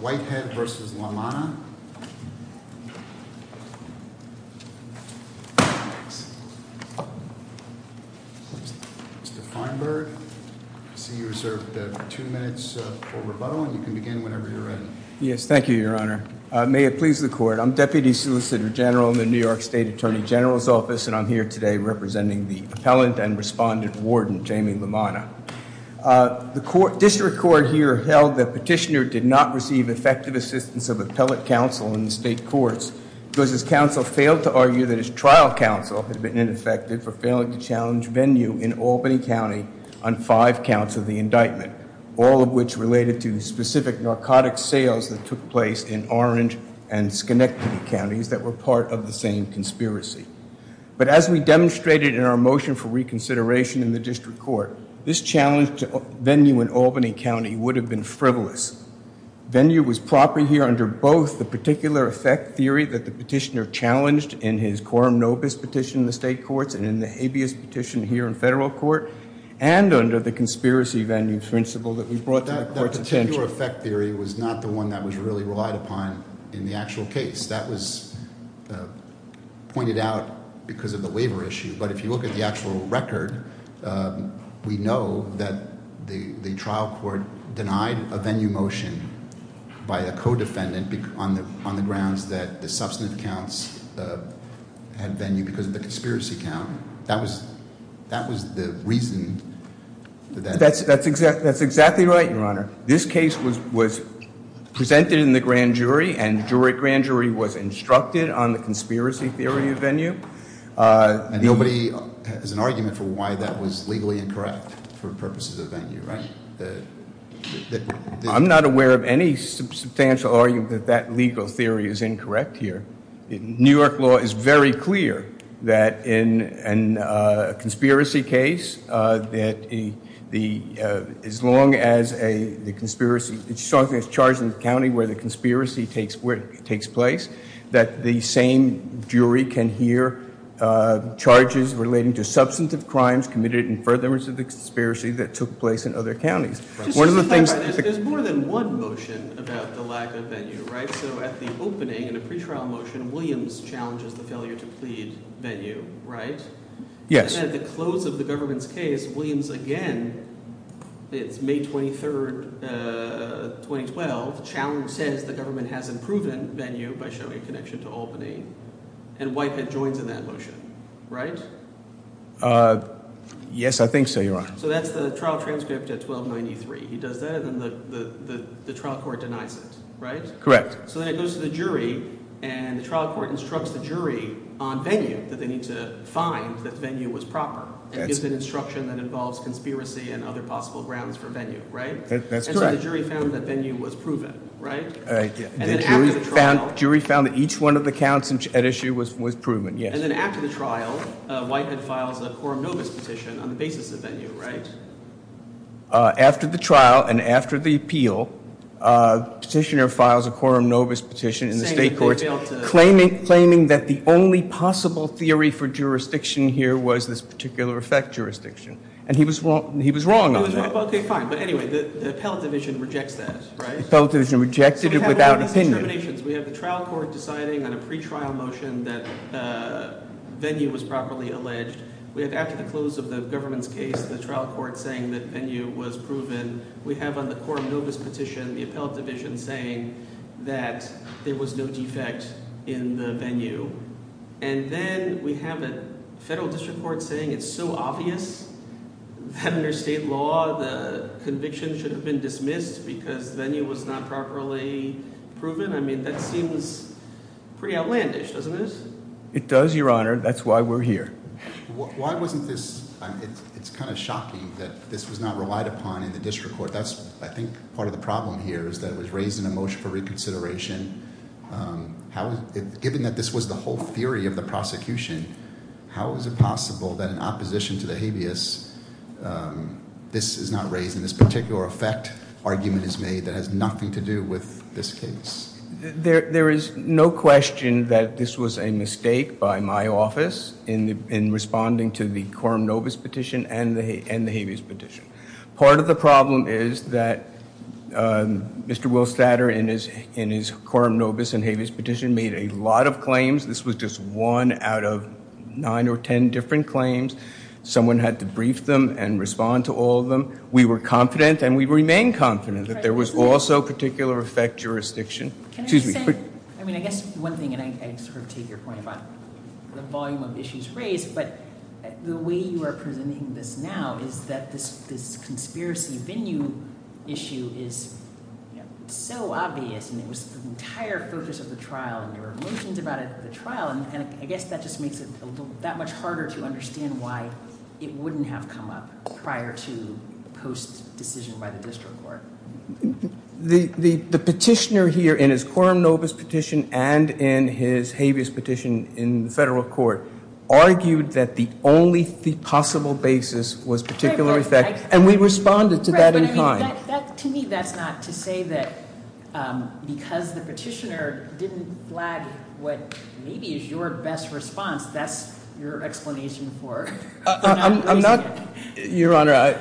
Mr. Feinberg, I see you reserved two minutes for rebuttal, and you can begin whenever you're ready. Yes, thank you, Your Honor. May it please the Court, I'm Deputy Solicitor General in the New York State Attorney General's Office, and I'm here today representing the Appellant and Respondent Warden, Jamie LaManna. The District Court here held that Petitioner did not receive effective assistance of Appellate Counsel in the State Courts, because his counsel failed to argue that his trial counsel had been ineffective for failing to challenge venue in Albany County on five counts of the indictment, all of which related to specific narcotic sales that took place in Orange and Schenectady counties that were part of the same conspiracy. But as we demonstrated in our motion for reconsideration in the District Court, this challenge to venue in Albany County would have been frivolous. Venue was proper here under both the particular effect theory that the Petitioner challenged in his quorum nobis petition in the State Courts and in the habeas petition here in Federal Court, and under the conspiracy venue principle that we brought to the Court's attention. The particular effect theory was not the one that was really relied upon in the actual case. That was pointed out because of the waiver issue. But if you look at the actual record, we know that the trial court denied a venue motion by a co-defendant on the grounds that the substantive counts had venue because of the conspiracy count. That was the reason. That's exactly right, Your Honor. This case was presented in the grand jury, and the grand jury was instructed on the conspiracy theory of venue. And nobody has an argument for why that was legally incorrect for purposes of venue, right? I'm not aware of any substantial argument that that legal theory is incorrect here. New York law is very clear that in a conspiracy case, that as long as the conspiracy is charged in the county where the conspiracy takes place, that the same jury can hear charges relating to substantive crimes committed in furtherance of the conspiracy that took place in other counties. There's more than one motion about the lack of venue, right? So at the opening, in a pretrial motion, Williams challenges the failure to plead venue, right? Yes. And at the close of the government's case, Williams again, it's May 23, 2012, challenges the government hasn't proven venue by showing a connection to Albany, and Whitehead joins in that motion, right? Yes, I think so, Your Honor. So that's the trial transcript at 1293. He does that, and then the trial court denies it, right? Correct. So then it goes to the jury, and the trial court instructs the jury on venue that they need to find that venue was proper. It's an instruction that involves conspiracy and other possible grounds for venue, right? That's correct. And so the jury found that venue was proven, right? The jury found that each one of the counts at issue was proven, yes. And then after the trial, Whitehead files a quorum novus petition on the basis of venue, right? After the trial and after the appeal, the petitioner files a quorum novus petition in the state courts claiming that the only possible theory for jurisdiction here was this particular effect jurisdiction. And he was wrong on that. Okay, fine. But anyway, the appellate division rejects that, right? The appellate division rejected it without opinion. We have the trial court deciding on a pretrial motion that venue was properly alleged. We have, after the close of the government's case, the trial court saying that venue was proven. We have on the quorum novus petition the appellate division saying that there was no defect in the venue. And then we have a federal district court saying it's so obvious that under state law, the conviction should have been dismissed because venue was not properly proven. I mean, that seems pretty outlandish, doesn't it? It does, your honor. That's why we're here. Why wasn't this, it's kind of shocking that this was not relied upon in the district court. That's, I think, part of the problem here is that it was raised in a motion for reconsideration. Given that this was the whole theory of the prosecution, how is it possible that in opposition to the habeas, this is not raised, and this particular effect argument is made that has nothing to do with this case? There is no question that this was a mistake by my office in responding to the quorum novus petition and the habeas petition. Part of the problem is that Mr. Will Statter in his quorum novus and habeas petition made a lot of claims. This was just one out of nine or ten different claims. Someone had to brief them and respond to all of them. We were confident and we remain confident that there was also particular effect jurisdiction. Excuse me. I mean, I guess one thing, and I sort of take your point about the volume of issues raised, but the way you are presenting this now is that this conspiracy venue issue is so obvious, and it was the entire focus of the trial, and there were motions about it at the trial, and I guess that just makes it that much harder to understand why it wouldn't have come up prior to post-decision by the district court. The petitioner here in his quorum novus petition and in his habeas petition in the federal court argued that the only possible basis was particular effect, and we responded to that in time. To me, that's not to say that because the petitioner didn't flag what maybe is your best response, that's your explanation for not raising it. Your Honor,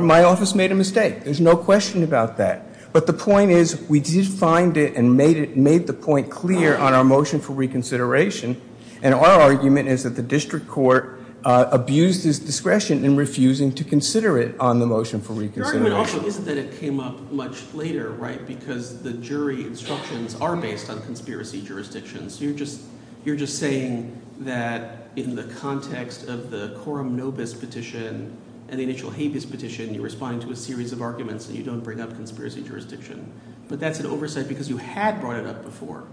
my office made a mistake. There's no question about that, but the point is we did find it and made the point clear on our motion for reconsideration, and our argument is that the district court abused its discretion in refusing to consider it on the motion for reconsideration. Your argument also is that it came up much later, right, because the jury instructions are based on conspiracy jurisdictions. You're just saying that in the context of the quorum novus petition and the initial habeas petition, you're responding to a series of arguments that you don't bring up conspiracy jurisdiction, but that's an oversight because you had brought it up before.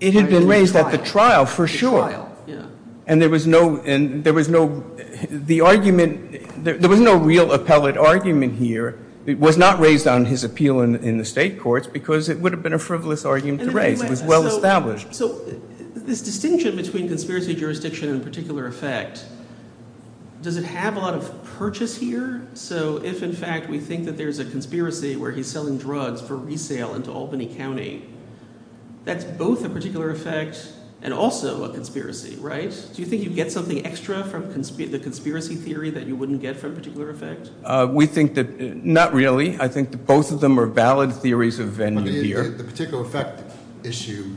It had been raised at the trial, for sure, and there was no real appellate argument here. It was not raised on his appeal in the state courts because it would have been a frivolous argument to raise. It was well established. So this distinction between conspiracy jurisdiction and particular effect, does it have a lot of purchase here? So if, in fact, we think that there's a conspiracy where he's selling drugs for resale into Albany County, that's both a particular effect and also a conspiracy, right? Do you think you'd get something extra from the conspiracy theory that you wouldn't get from particular effect? We think that not really. I think that both of them are valid theories of venue here. The particular effect issue,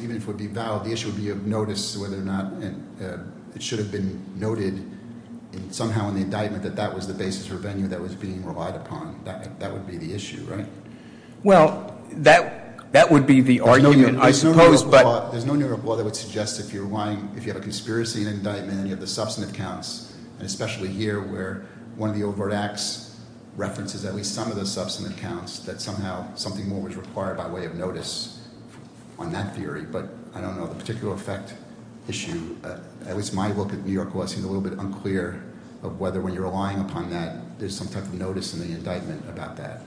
even if it would be valid, the issue would be of notice whether or not it should have been noted somehow in the indictment that that was the basis or venue that was being relied upon. That would be the issue, right? Well, that would be the argument, I suppose, but- There's no new law that would suggest if you have a conspiracy in an indictment and you have the substantive counts, and especially here where one of the overt acts references at least some of the substantive counts, that somehow something more was required by way of notice on that theory. But I don't know the particular effect issue. At least my look at New York law seemed a little bit unclear of whether when you're relying upon that, there's some type of notice in the indictment about that.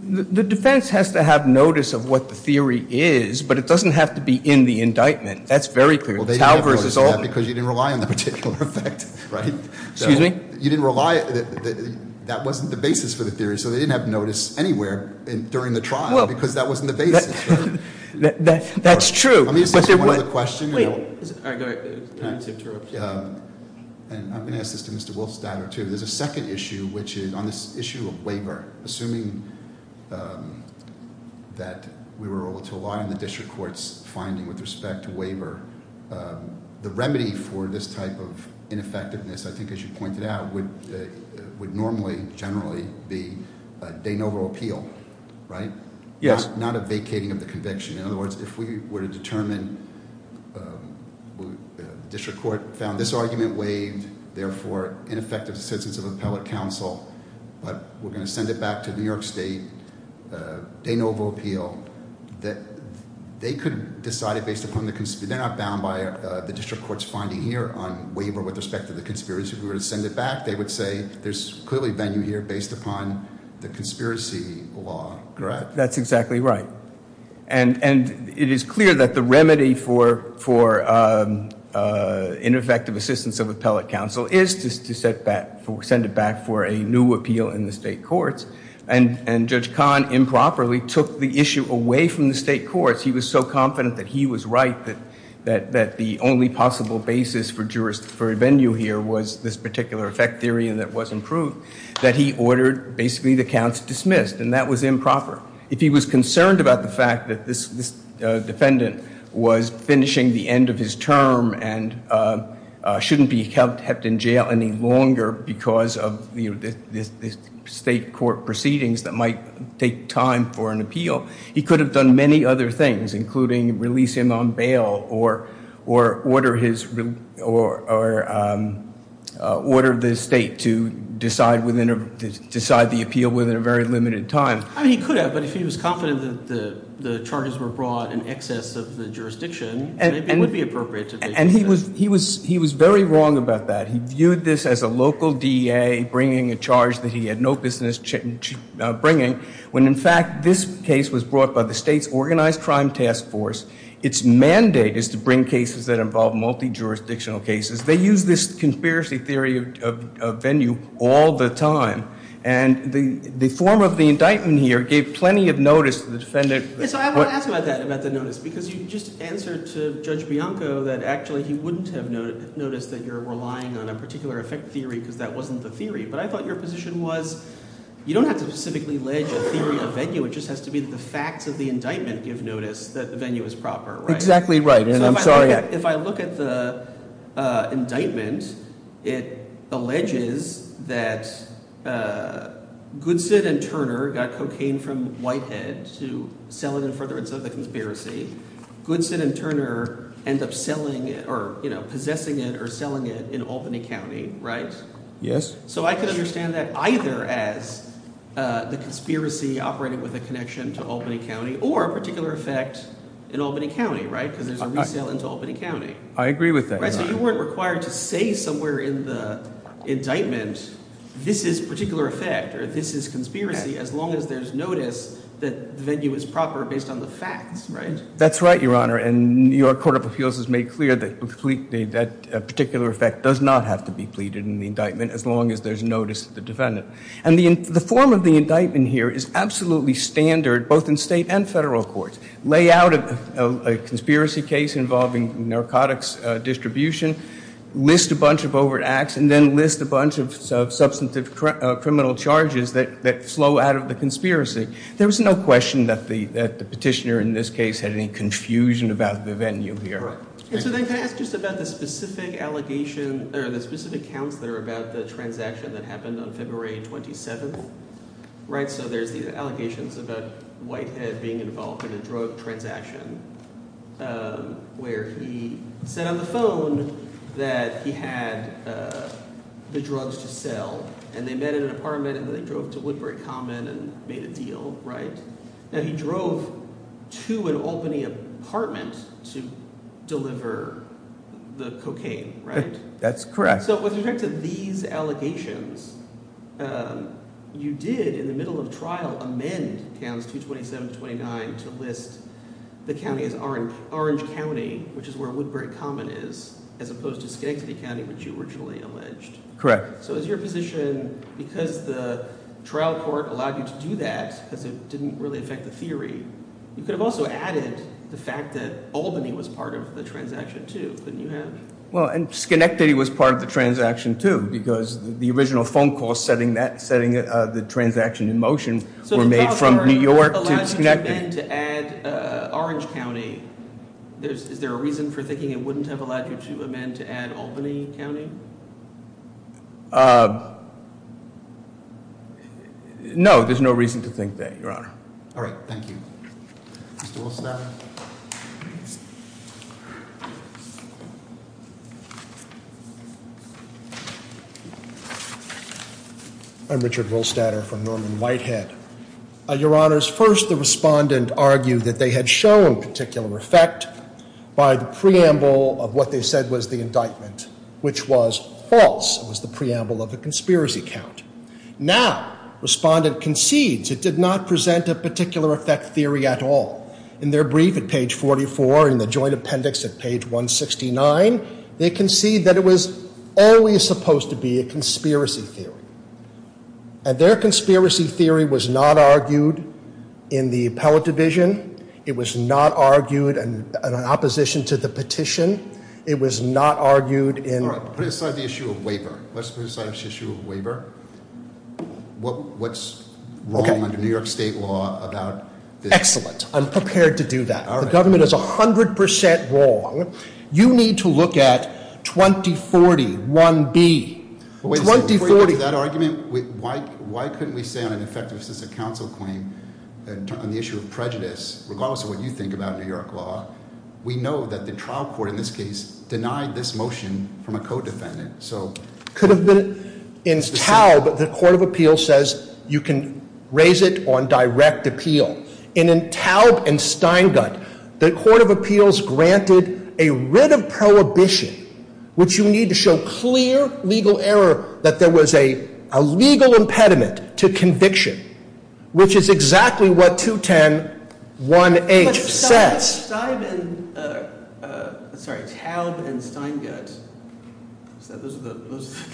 The defense has to have notice of what the theory is, but it doesn't have to be in the indictment. That's very clear. Well, they didn't have notice of that because you didn't rely on the particular effect, right? Excuse me? You didn't rely. That wasn't the basis for the theory, so they didn't have notice anywhere during the trial because that wasn't the basis. That's true. Let me ask you one other question. I'm going to ask this to Mr. Wolfstadter, too. There's a second issue, which is on this issue of waiver. Assuming that we were able to align the district court's finding with respect to waiver, the remedy for this type of ineffectiveness, I think as you pointed out, would normally, generally, be de novo appeal, right? Yes. Not a vacating of the conviction. In other words, if we were to determine the district court found this argument waived, therefore, ineffective assistance of appellate counsel, but we're going to send it back to New York State, de novo appeal, they could decide it based upon the, they're not bound by the district court's finding here on waiver with respect to the conspiracy. If we were to send it back, they would say there's clearly venue here based upon the conspiracy law, correct? That's exactly right. And it is clear that the remedy for ineffective assistance of appellate counsel is to send it back for a new appeal in the state courts, and Judge Kahn improperly took the issue away from the state courts. He was so confident that he was right, that the only possible basis for venue here was this particular effect theory, and that wasn't proved, that he ordered, basically, the counts dismissed, and that was improper. If he was concerned about the fact that this defendant was finishing the end of his term and shouldn't be kept in jail any longer because of the state court proceedings that might take time for an appeal, he could have done many other things, including release him on bail or order the state to decide the appeal within a very limited time. I mean, he could have, but if he was confident that the charges were brought in excess of the jurisdiction, maybe it would be appropriate to do so. And he was very wrong about that. He viewed this as a local DA bringing a charge that he had no business bringing when, in fact, this case was brought by the state's organized crime task force. Its mandate is to bring cases that involve multi-jurisdictional cases. They use this conspiracy theory of venue all the time, and the form of the indictment here gave plenty of notice to the defendant. So I want to ask you about that, about the notice, because you just answered to Judge Bianco that actually he wouldn't have noticed that you're relying on a particular effect theory because that wasn't the theory, but I thought your position was you don't have to specifically allege a theory of venue. It just has to be the facts of the indictment give notice that the venue is proper, right? Exactly right, and I'm sorry. If I look at the indictment, it alleges that Goodson and Turner got cocaine from Whitehead to sell it in furtherance of the conspiracy. Goodson and Turner end up selling it or possessing it or selling it in Albany County, right? Yes. So I can understand that either as the conspiracy operated with a connection to Albany County or a particular effect in Albany County, right, because there's a resale into Albany County. I agree with that. So you weren't required to say somewhere in the indictment this is particular effect or this is conspiracy as long as there's notice that the venue is proper based on the facts, right? That's right, Your Honor, and your Court of Appeals has made clear that that particular effect does not have to be pleaded in the indictment as long as there's notice to the defendant. And the form of the indictment here is absolutely standard both in state and federal courts. Lay out a conspiracy case involving narcotics distribution, list a bunch of overt acts, and then list a bunch of substantive criminal charges that flow out of the conspiracy. There was no question that the petitioner in this case had any confusion about the venue here. All right. And so then can I ask just about the specific allegation or the specific counts that are about the transaction that happened on February 27th, right? So there's the allegations about Whitehead being involved in a drug transaction where he said on the phone that he had the drugs to sell, and they met in an apartment, and then they drove to Woodbury Common and made a deal, right? And he drove to an Albany apartment to deliver the cocaine, right? That's correct. So with respect to these allegations, you did in the middle of trial amend Counts 227 to 29 to list the county as Orange County, which is where Woodbury Common is, as opposed to Skagsby County, which you originally alleged. Correct. So is your position because the trial court allowed you to do that because it didn't really affect the theory, you could have also added the fact that Albany was part of the transaction too, couldn't you have? Well, and Schenectady was part of the transaction too because the original phone call setting the transaction in motion were made from New York to Schenectady. If you amend to add Orange County, is there a reason for thinking it wouldn't have allowed you to amend to add Albany County? No, there's no reason to think that, Your Honor. All right. Thank you. Mr. Wohlstatter. I'm Richard Wohlstatter from Norman Whitehead. Your Honors, first the respondent argued that they had shown particular effect by the preamble of what they said was the indictment, which was false. It was the preamble of a conspiracy count. Now, respondent concedes it did not present a particular effect theory at all. In their brief at page 44 and the joint appendix at page 169, they concede that it was always supposed to be a conspiracy theory. And their conspiracy theory was not argued in the appellate division. It was not argued in opposition to the petition. It was not argued in- All right, put aside the issue of waiver. Let's put aside the issue of waiver. What's wrong under New York State law about this? Excellent. I'm prepared to do that. The government is 100% wrong. You need to look at 2041B. 2040- Before you get to that argument, why couldn't we say on an effective assistant counsel claim on the issue of prejudice, regardless of what you think about New York law, we know that the trial court in this case denied this motion from a co-defendant. Could have been in Taub, the court of appeals says you can raise it on direct appeal. And in Taub and Steingut, the court of appeals granted a writ of prohibition, which you need to show clear legal error that there was a legal impediment to conviction, which is exactly what 210-1H says. Taub and Steingut, those are the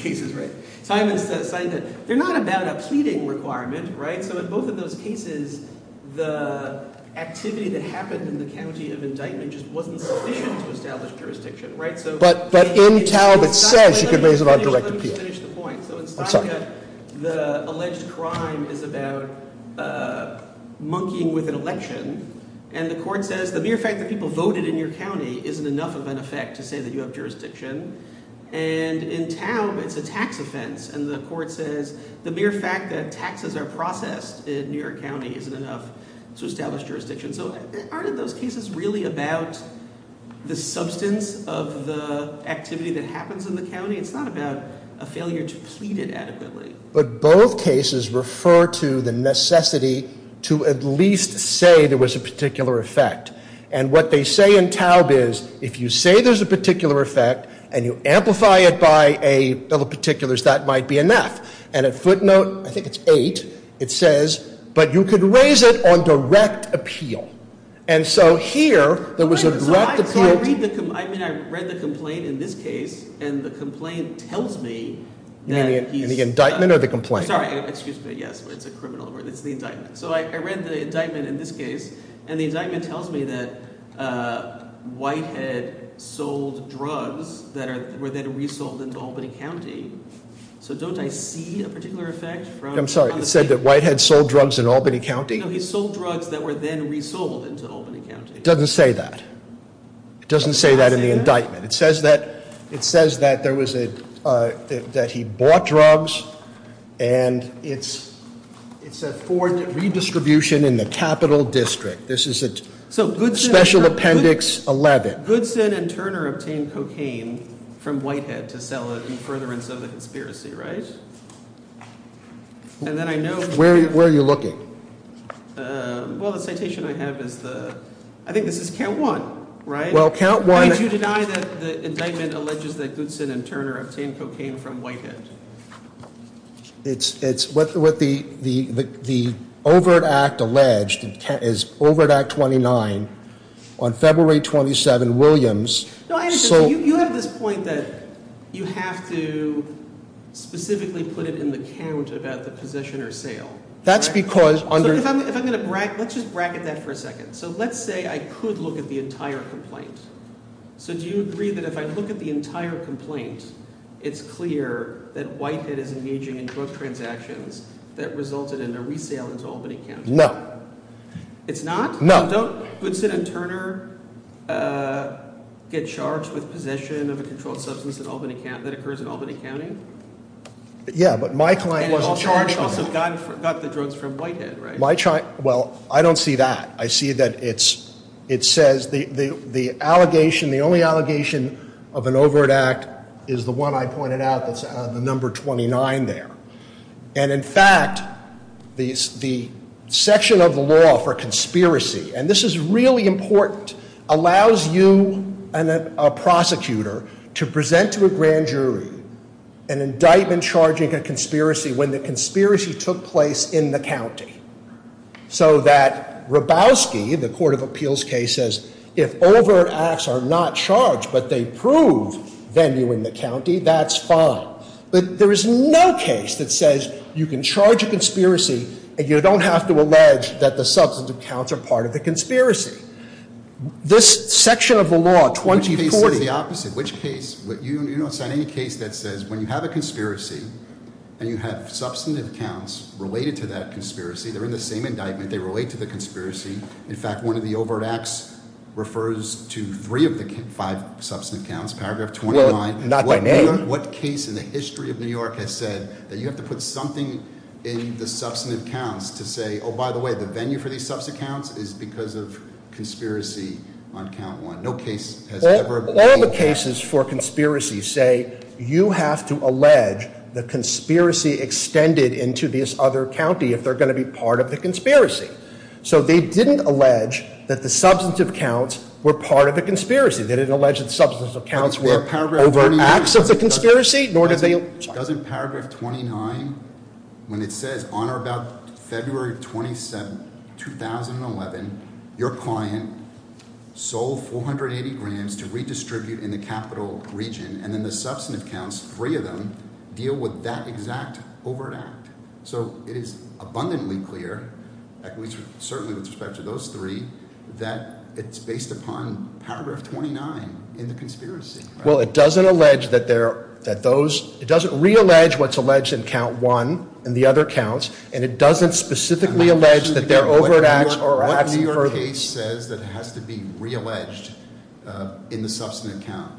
cases, right? They're not about a pleading requirement, right? So in both of those cases, the activity that happened in the county of indictment just wasn't sufficient to establish jurisdiction, right? But in Taub it says you can raise it on direct appeal. Let me just finish the point. I'm sorry. The alleged crime is about monkeying with an election, and the court says the mere fact that people voted in your county isn't enough of an effect to say that you have jurisdiction. And in Taub it's a tax offense, and the court says the mere fact that taxes are processed in New York County isn't enough to establish jurisdiction. So aren't those cases really about the substance of the activity that happens in the county? It's not about a failure to plead it adequately. But both cases refer to the necessity to at least say there was a particular effect. And what they say in Taub is if you say there's a particular effect and you amplify it by a bill of particulars, that might be enough. And at footnote, I think it's eight, it says, but you could raise it on direct appeal. And so here, there was a direct appeal to- I read the complaint in this case, and the complaint tells me that he's- You mean the indictment or the complaint? Sorry, excuse me. Yes, it's a criminal. It's the indictment. So I read the indictment in this case, and the indictment tells me that Whitehead sold drugs that were then resold into Albany County. So don't I see a particular effect from- I'm sorry, it said that Whitehead sold drugs in Albany County? No, he sold drugs that were then resold into Albany County. It doesn't say that. It doesn't say that in the indictment. It says that there was a, that he bought drugs, and it's a redistribution in the capital district. This is a special appendix 11. It says that Goodson and Turner obtained cocaine from Whitehead to sell it in furtherance of the conspiracy, right? And then I know- Where are you looking? Well, the citation I have is the- I think this is count one, right? Well, count one- Did you deny that the indictment alleges that Goodson and Turner obtained cocaine from Whitehead? It's what the overt act alleged is overt act 29. On February 27, Williams sold- You have this point that you have to specifically put it in the count about the possession or sale. That's because- If I'm going to- let's just bracket that for a second. So let's say I could look at the entire complaint. So do you agree that if I look at the entire complaint, it's clear that Whitehead is engaging in drug transactions that resulted in a resale into Albany County? It's not? No. Don't Goodson and Turner get charged with possession of a controlled substance that occurs in Albany County? Yeah, but my client wasn't charged with it. And it also got the drugs from Whitehead, right? Well, I don't see that. I see that it says the allegation, the only allegation of an overt act is the one I pointed out that's on the number 29 there. And in fact, the section of the law for conspiracy, and this is really important, allows you, a prosecutor, to present to a grand jury an indictment charging a conspiracy when the conspiracy took place in the county. So that Hrabowski, the court of appeals case, says if overt acts are not charged but they prove venue in the county, that's fine. But there is no case that says you can charge a conspiracy and you don't have to allege that the substantive counts are part of the conspiracy. This section of the law, 2040- Which case says the opposite? Which case? You don't sign any case that says when you have a conspiracy and you have substantive counts related to that conspiracy, they're in the same indictment, they relate to the conspiracy. In fact, one of the overt acts refers to three of the five substantive counts, paragraph 29. Not the name. What case in the history of New York has said that you have to put something in the substantive counts to say, by the way, the venue for these substantive counts is because of conspiracy on count one. No case has ever- All the cases for conspiracy say you have to allege the conspiracy extended into this other county if they're going to be part of the conspiracy. So they didn't allege that the substantive counts were part of the conspiracy. They didn't allege that the substantive counts were over acts of the conspiracy, nor did they- Doesn't paragraph 29, when it says on or about February 27, 2011, your client sold 480 grams to redistribute in the capital region, and then the substantive counts, three of them, deal with that exact overt act. So it is abundantly clear, certainly with respect to those three, that it's based upon paragraph 29 in the conspiracy. Well, it doesn't allege that they're- that those- it doesn't reallege what's alleged in count one and the other counts, and it doesn't specifically allege that they're overt acts or acts further. What New York case says that has to be realleged in the substantive count?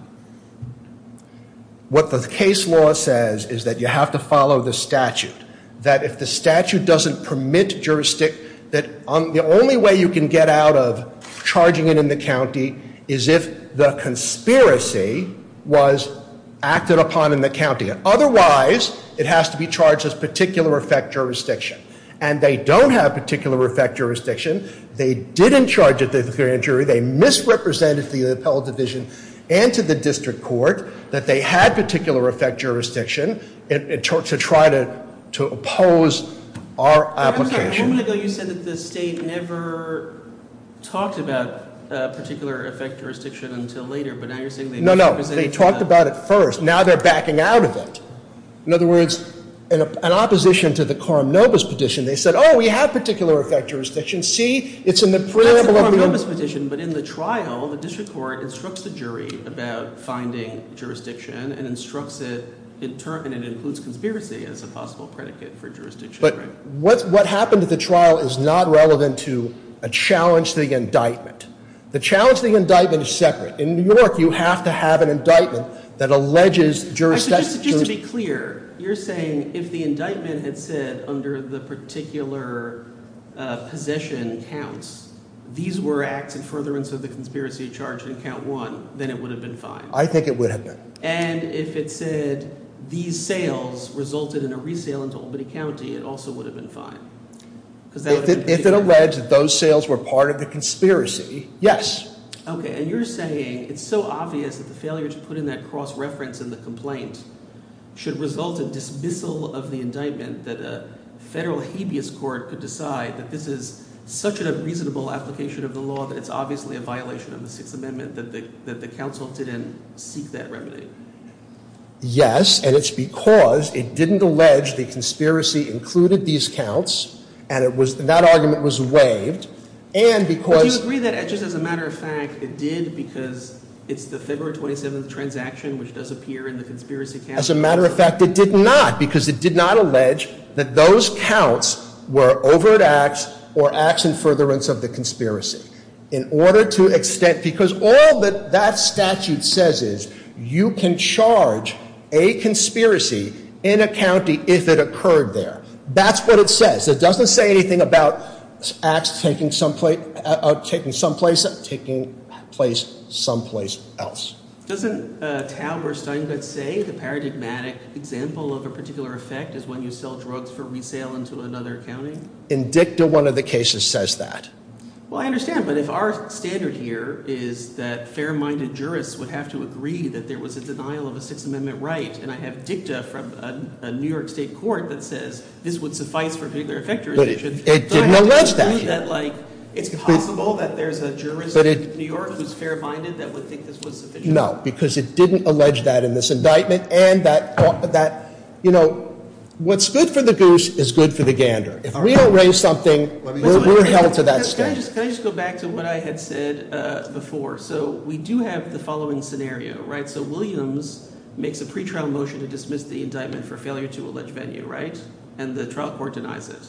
What the case law says is that you have to follow the statute. That if the statute doesn't permit jurisdiction- that the only way you can get out of charging it in the county is if the conspiracy was acted upon in the county. Otherwise, it has to be charged as particular effect jurisdiction. And they don't have particular effect jurisdiction. They didn't charge it to the grand jury. They misrepresented to the appellate division and to the district court that they had particular effect jurisdiction to try to oppose our application. A moment ago, you said that the state never talked about particular effect jurisdiction until later, but now you're saying they misrepresented- No, no. They talked about it first. Now they're backing out of it. In other words, in opposition to the Coram Nobis petition, they said, oh, we have particular effect jurisdiction. See, it's in the- That's the Coram Nobis petition, but in the trial, the district court instructs the jury about finding jurisdiction and instructs it- and it includes conspiracy as a possible predicate for jurisdiction. But what happened at the trial is not relevant to a challenge to the indictment. The challenge to the indictment is separate. In New York, you have to have an indictment that alleges jurisdiction- these were acts in furtherance of the conspiracy charge in count one, then it would have been fine. I think it would have been. And if it said these sales resulted in a resale into Albany County, it also would have been fine. If it alleged that those sales were part of the conspiracy, yes. Okay, and you're saying it's so obvious that the failure to put in that cross-reference in the complaint should result in dismissal of the indictment- that the federal habeas court could decide that this is such a reasonable application of the law- that it's obviously a violation of the Sixth Amendment, that the council didn't seek that remedy? Yes, and it's because it didn't allege the conspiracy included these counts, and that argument was waived, and because- But do you agree that, just as a matter of fact, it did because it's the February 27th transaction, which does appear in the conspiracy case? As a matter of fact, it did not, because it did not allege that those counts were overt acts or acts in furtherance of the conspiracy. In order to extent- because all that that statute says is, you can charge a conspiracy in a county if it occurred there. That's what it says. It doesn't say anything about acts taking some place- taking place someplace else. Doesn't Tauber-Steingott say the paradigmatic example of a particular effect is when you sell drugs for resale into another county? In dicta, one of the cases says that. Well, I understand, but if our standard here is that fair-minded jurists would have to agree that there was a denial of a Sixth Amendment right, and I have dicta from a New York state court that says this would suffice for a particular effector- But it did not allege that here. It's possible that there's a jurist in New York who's fair-minded that would think this was sufficient? No, because it didn't allege that in this indictment, and that- what's good for the goose is good for the gander. If we don't raise something, we're held to that standard. Can I just go back to what I had said before? So we do have the following scenario, right? So Williams makes a pretrial motion to dismiss the indictment for failure to allege venue, right? And the trial court denies it.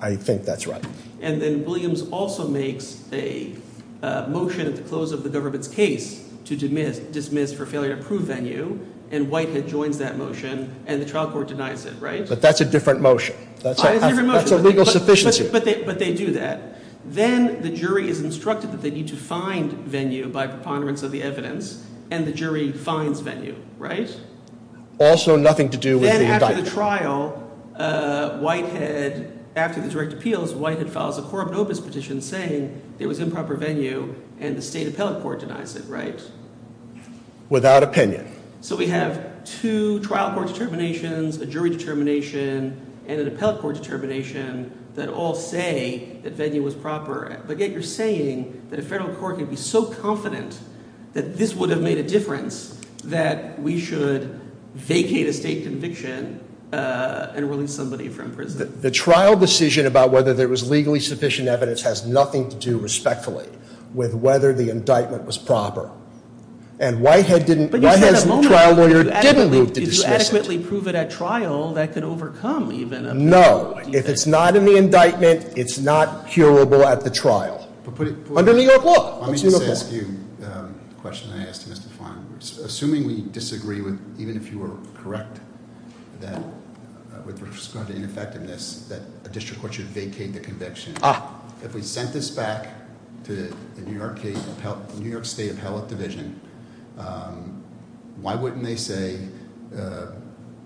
I think that's right. And then Williams also makes a motion at the close of the government's case to dismiss for failure to prove venue, and Whitehead joins that motion, and the trial court denies it, right? But that's a different motion. It's a different motion. That's a legal sufficiency. But they do that. Then the jury is instructed that they need to find venue by preponderance of the evidence, and the jury finds venue, right? Also nothing to do with the indictment. After the trial, Whitehead- after the direct appeals, Whitehead files a corrupt opus petition saying there was improper venue, and the state appellate court denies it, right? Without opinion. So we have two trial court determinations, a jury determination, and an appellate court determination that all say that venue was proper. But yet you're saying that a federal court can be so confident that this would have made a difference that we should vacate a state conviction and release somebody from prison. The trial decision about whether there was legally sufficient evidence has nothing to do respectfully with whether the indictment was proper. And Whitehead didn't- Whitehead's trial lawyer didn't move to dismiss it. Did you adequately prove it at trial that could overcome even a- No, if it's not in the indictment, it's not curable at the trial. Under New York law, it's uniform. Let me just ask you a question I asked Mr. Flanders. Assuming we disagree with, even if you were correct, that with respect to ineffectiveness, that a district court should vacate the conviction. If we sent this back to the New York State Appellate Division, why wouldn't they say,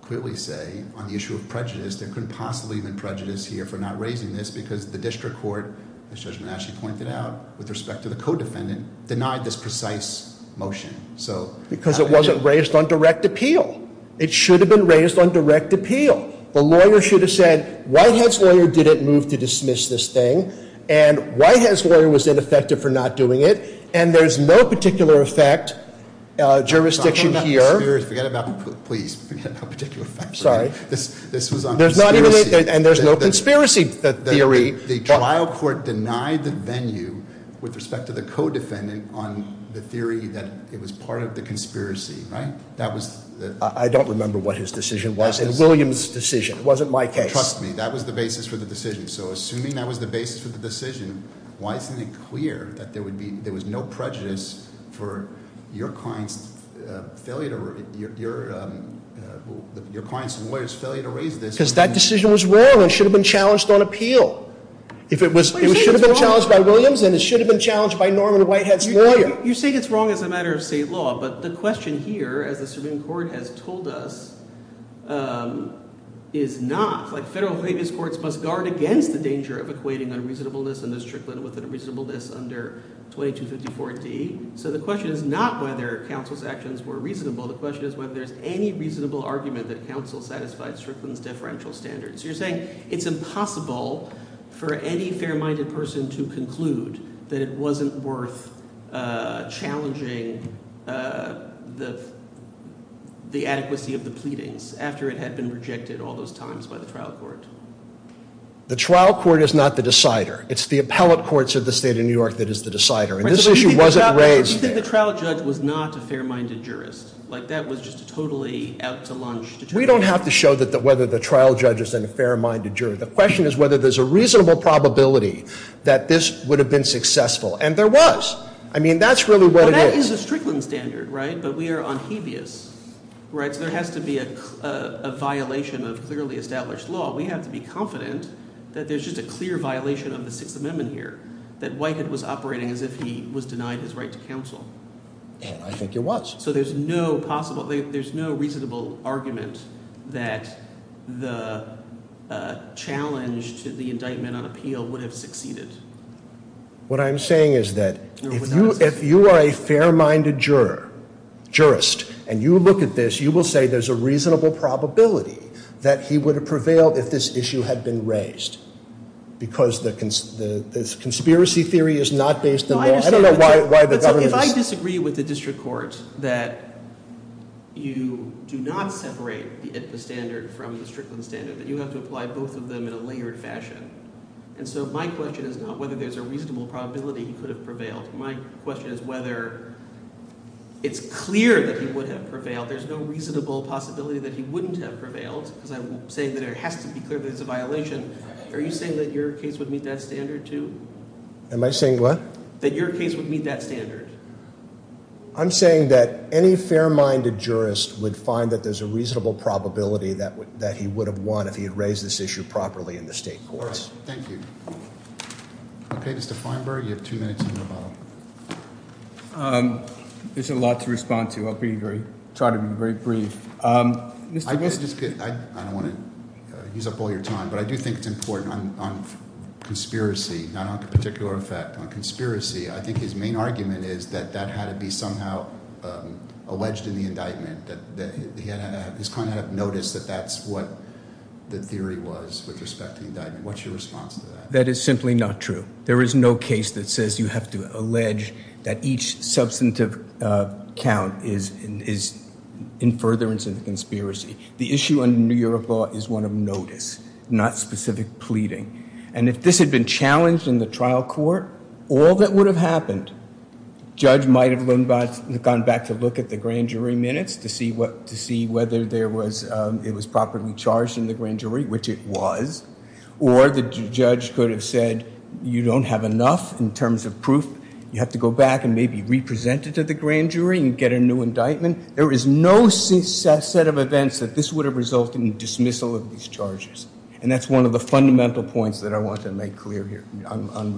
clearly say, on the issue of prejudice, there couldn't possibly have been prejudice here for not raising this because the district court, as Judge Monash pointed out, with respect to the co-defendant, denied this precise motion. Because it wasn't raised on direct appeal. It should have been raised on direct appeal. The lawyer should have said, Whitehead's lawyer didn't move to dismiss this thing. And Whitehead's lawyer was ineffective for not doing it. And there's no particular effect jurisdiction here. Forget about, please, forget about particular effect. Sorry. This was on conspiracy. And there's no conspiracy theory. The trial court denied the venue with respect to the co-defendant on the theory that it was part of the conspiracy, right? That was the- I don't remember what his decision was. It was William's decision. It wasn't my case. Trust me. That was the basis for the decision. So assuming that was the basis for the decision, why isn't it clear that there was no prejudice for your client's failure to raise this? Because that decision was wrong and should have been challenged on appeal. It should have been challenged by Williams and it should have been challenged by Norman Whitehead's lawyer. You say it's wrong as a matter of state law. But the question here, as the Supreme Court has told us, is not. Federal habeas courts must guard against the danger of equating unreasonableness under Strickland with unreasonableness under 2254D. So the question is not whether counsel's actions were reasonable. The question is whether there's any reasonable argument that counsel satisfied Strickland's deferential standards. You're saying it's impossible for any fair-minded person to conclude that it wasn't worth challenging the adequacy of the pleadings after it had been rejected all those times by the trial court. The trial court is not the decider. It's the appellate courts of the state of New York that is the decider. And this issue wasn't raised- So you think the trial judge was not a fair-minded jurist? Like that was just a totally out-to-lunch determination? We don't have to show whether the trial judge is a fair-minded juror. The question is whether there's a reasonable probability that this would have been successful. And there was. I mean, that's really what it is. Well, that is a Strickland standard, right? But we are on habeas, right? So there has to be a violation of clearly established law. We have to be confident that there's just a clear violation of the Sixth Amendment here, that Whitehead was operating as if he was denied his right to counsel. And I think it was. So there's no reasonable argument that the challenge to the indictment on appeal would have succeeded. What I'm saying is that if you are a fair-minded jurist and you look at this, you will say there's a reasonable probability that he would have prevailed if this issue had been raised. Because the conspiracy theory is not based on law. I don't know why the government is- If I disagree with the district court that you do not separate the ITPA standard from the Strickland standard, that you have to apply both of them in a layered fashion. And so my question is not whether there's a reasonable probability he could have prevailed. My question is whether it's clear that he would have prevailed. There's no reasonable possibility that he wouldn't have prevailed because I'm saying that it has to be clear that it's a violation. Are you saying that your case would meet that standard too? Am I saying what? That your case would meet that standard? I'm saying that any fair-minded jurist would find that there's a reasonable probability that he would have won if he had raised this issue properly in the state courts. Thank you. Okay, Mr. Feinberg, you have two minutes on your file. There's a lot to respond to. I'll try to be very brief. I don't want to use up all your time, but I do think it's important on conspiracy, not on particular effect, on conspiracy. I think his main argument is that that had to be somehow alleged in the indictment, that his client had noticed that that's what the theory was with respect to the indictment. What's your response to that? That is simply not true. There is no case that says you have to allege that each substantive count is in furtherance of the conspiracy. The issue under New York law is one of notice, not specific pleading. And if this had been challenged in the trial court, all that would have happened, judge might have gone back to look at the grand jury minutes to see whether it was properly charged in the grand jury, which it was, or the judge could have said you don't have enough in terms of proof. You have to go back and maybe re-present it to the grand jury and get a new indictment. There is no set of events that this would have resulted in dismissal of these charges, and that's one of the fundamental points that I want to make clear here.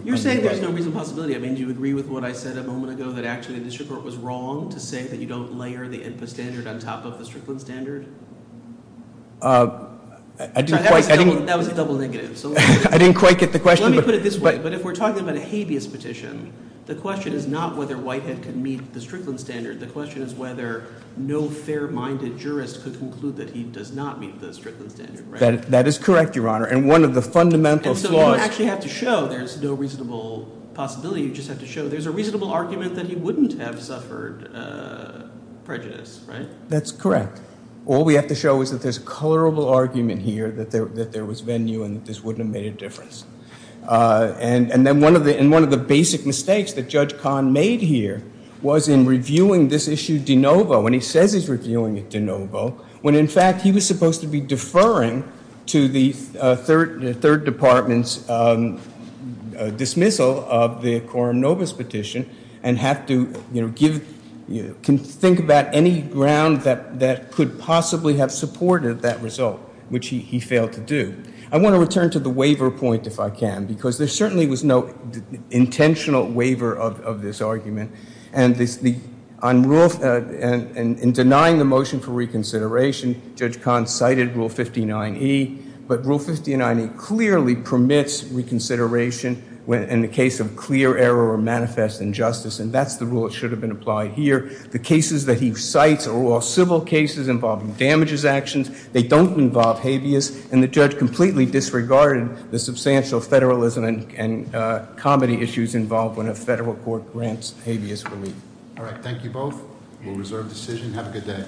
You're saying there's no reason, possibility. I mean, do you agree with what I said a moment ago, that actually the district court was wrong to say that you don't layer the INPA standard on top of the Strickland standard? That was a double negative. I didn't quite get the question. Let me put it this way. But if we're talking about a habeas petition, the question is not whether Whitehead can meet the Strickland standard. The question is whether no fair-minded jurist could conclude that he does not meet the Strickland standard, right? That is correct, Your Honor, and one of the fundamental flaws. And so you don't actually have to show there's no reasonable possibility. You just have to show there's a reasonable argument that he wouldn't have suffered prejudice, right? That's correct. All we have to show is that there's a colorable argument here that there was venue and that this wouldn't have made a difference. And then one of the basic mistakes that Judge Kahn made here was in reviewing this issue de novo, when he says he's reviewing it de novo, when, in fact, he was supposed to be deferring to the third department's dismissal of the Corum Novus petition and have to think about any ground that could possibly have supported that result, which he failed to do. I want to return to the waiver point, if I can, because there certainly was no intentional waiver of this argument. And in denying the motion for reconsideration, Judge Kahn cited Rule 59E, but Rule 59E clearly permits reconsideration in the case of clear error or manifest injustice. And that's the rule that should have been applied here. The cases that he cites are all civil cases involving damages actions. They don't involve habeas. And the judge completely disregarded the substantial federalism and comedy issues involved when a federal court grants habeas relief. All right, thank you both. We'll reserve decision. Have a good day.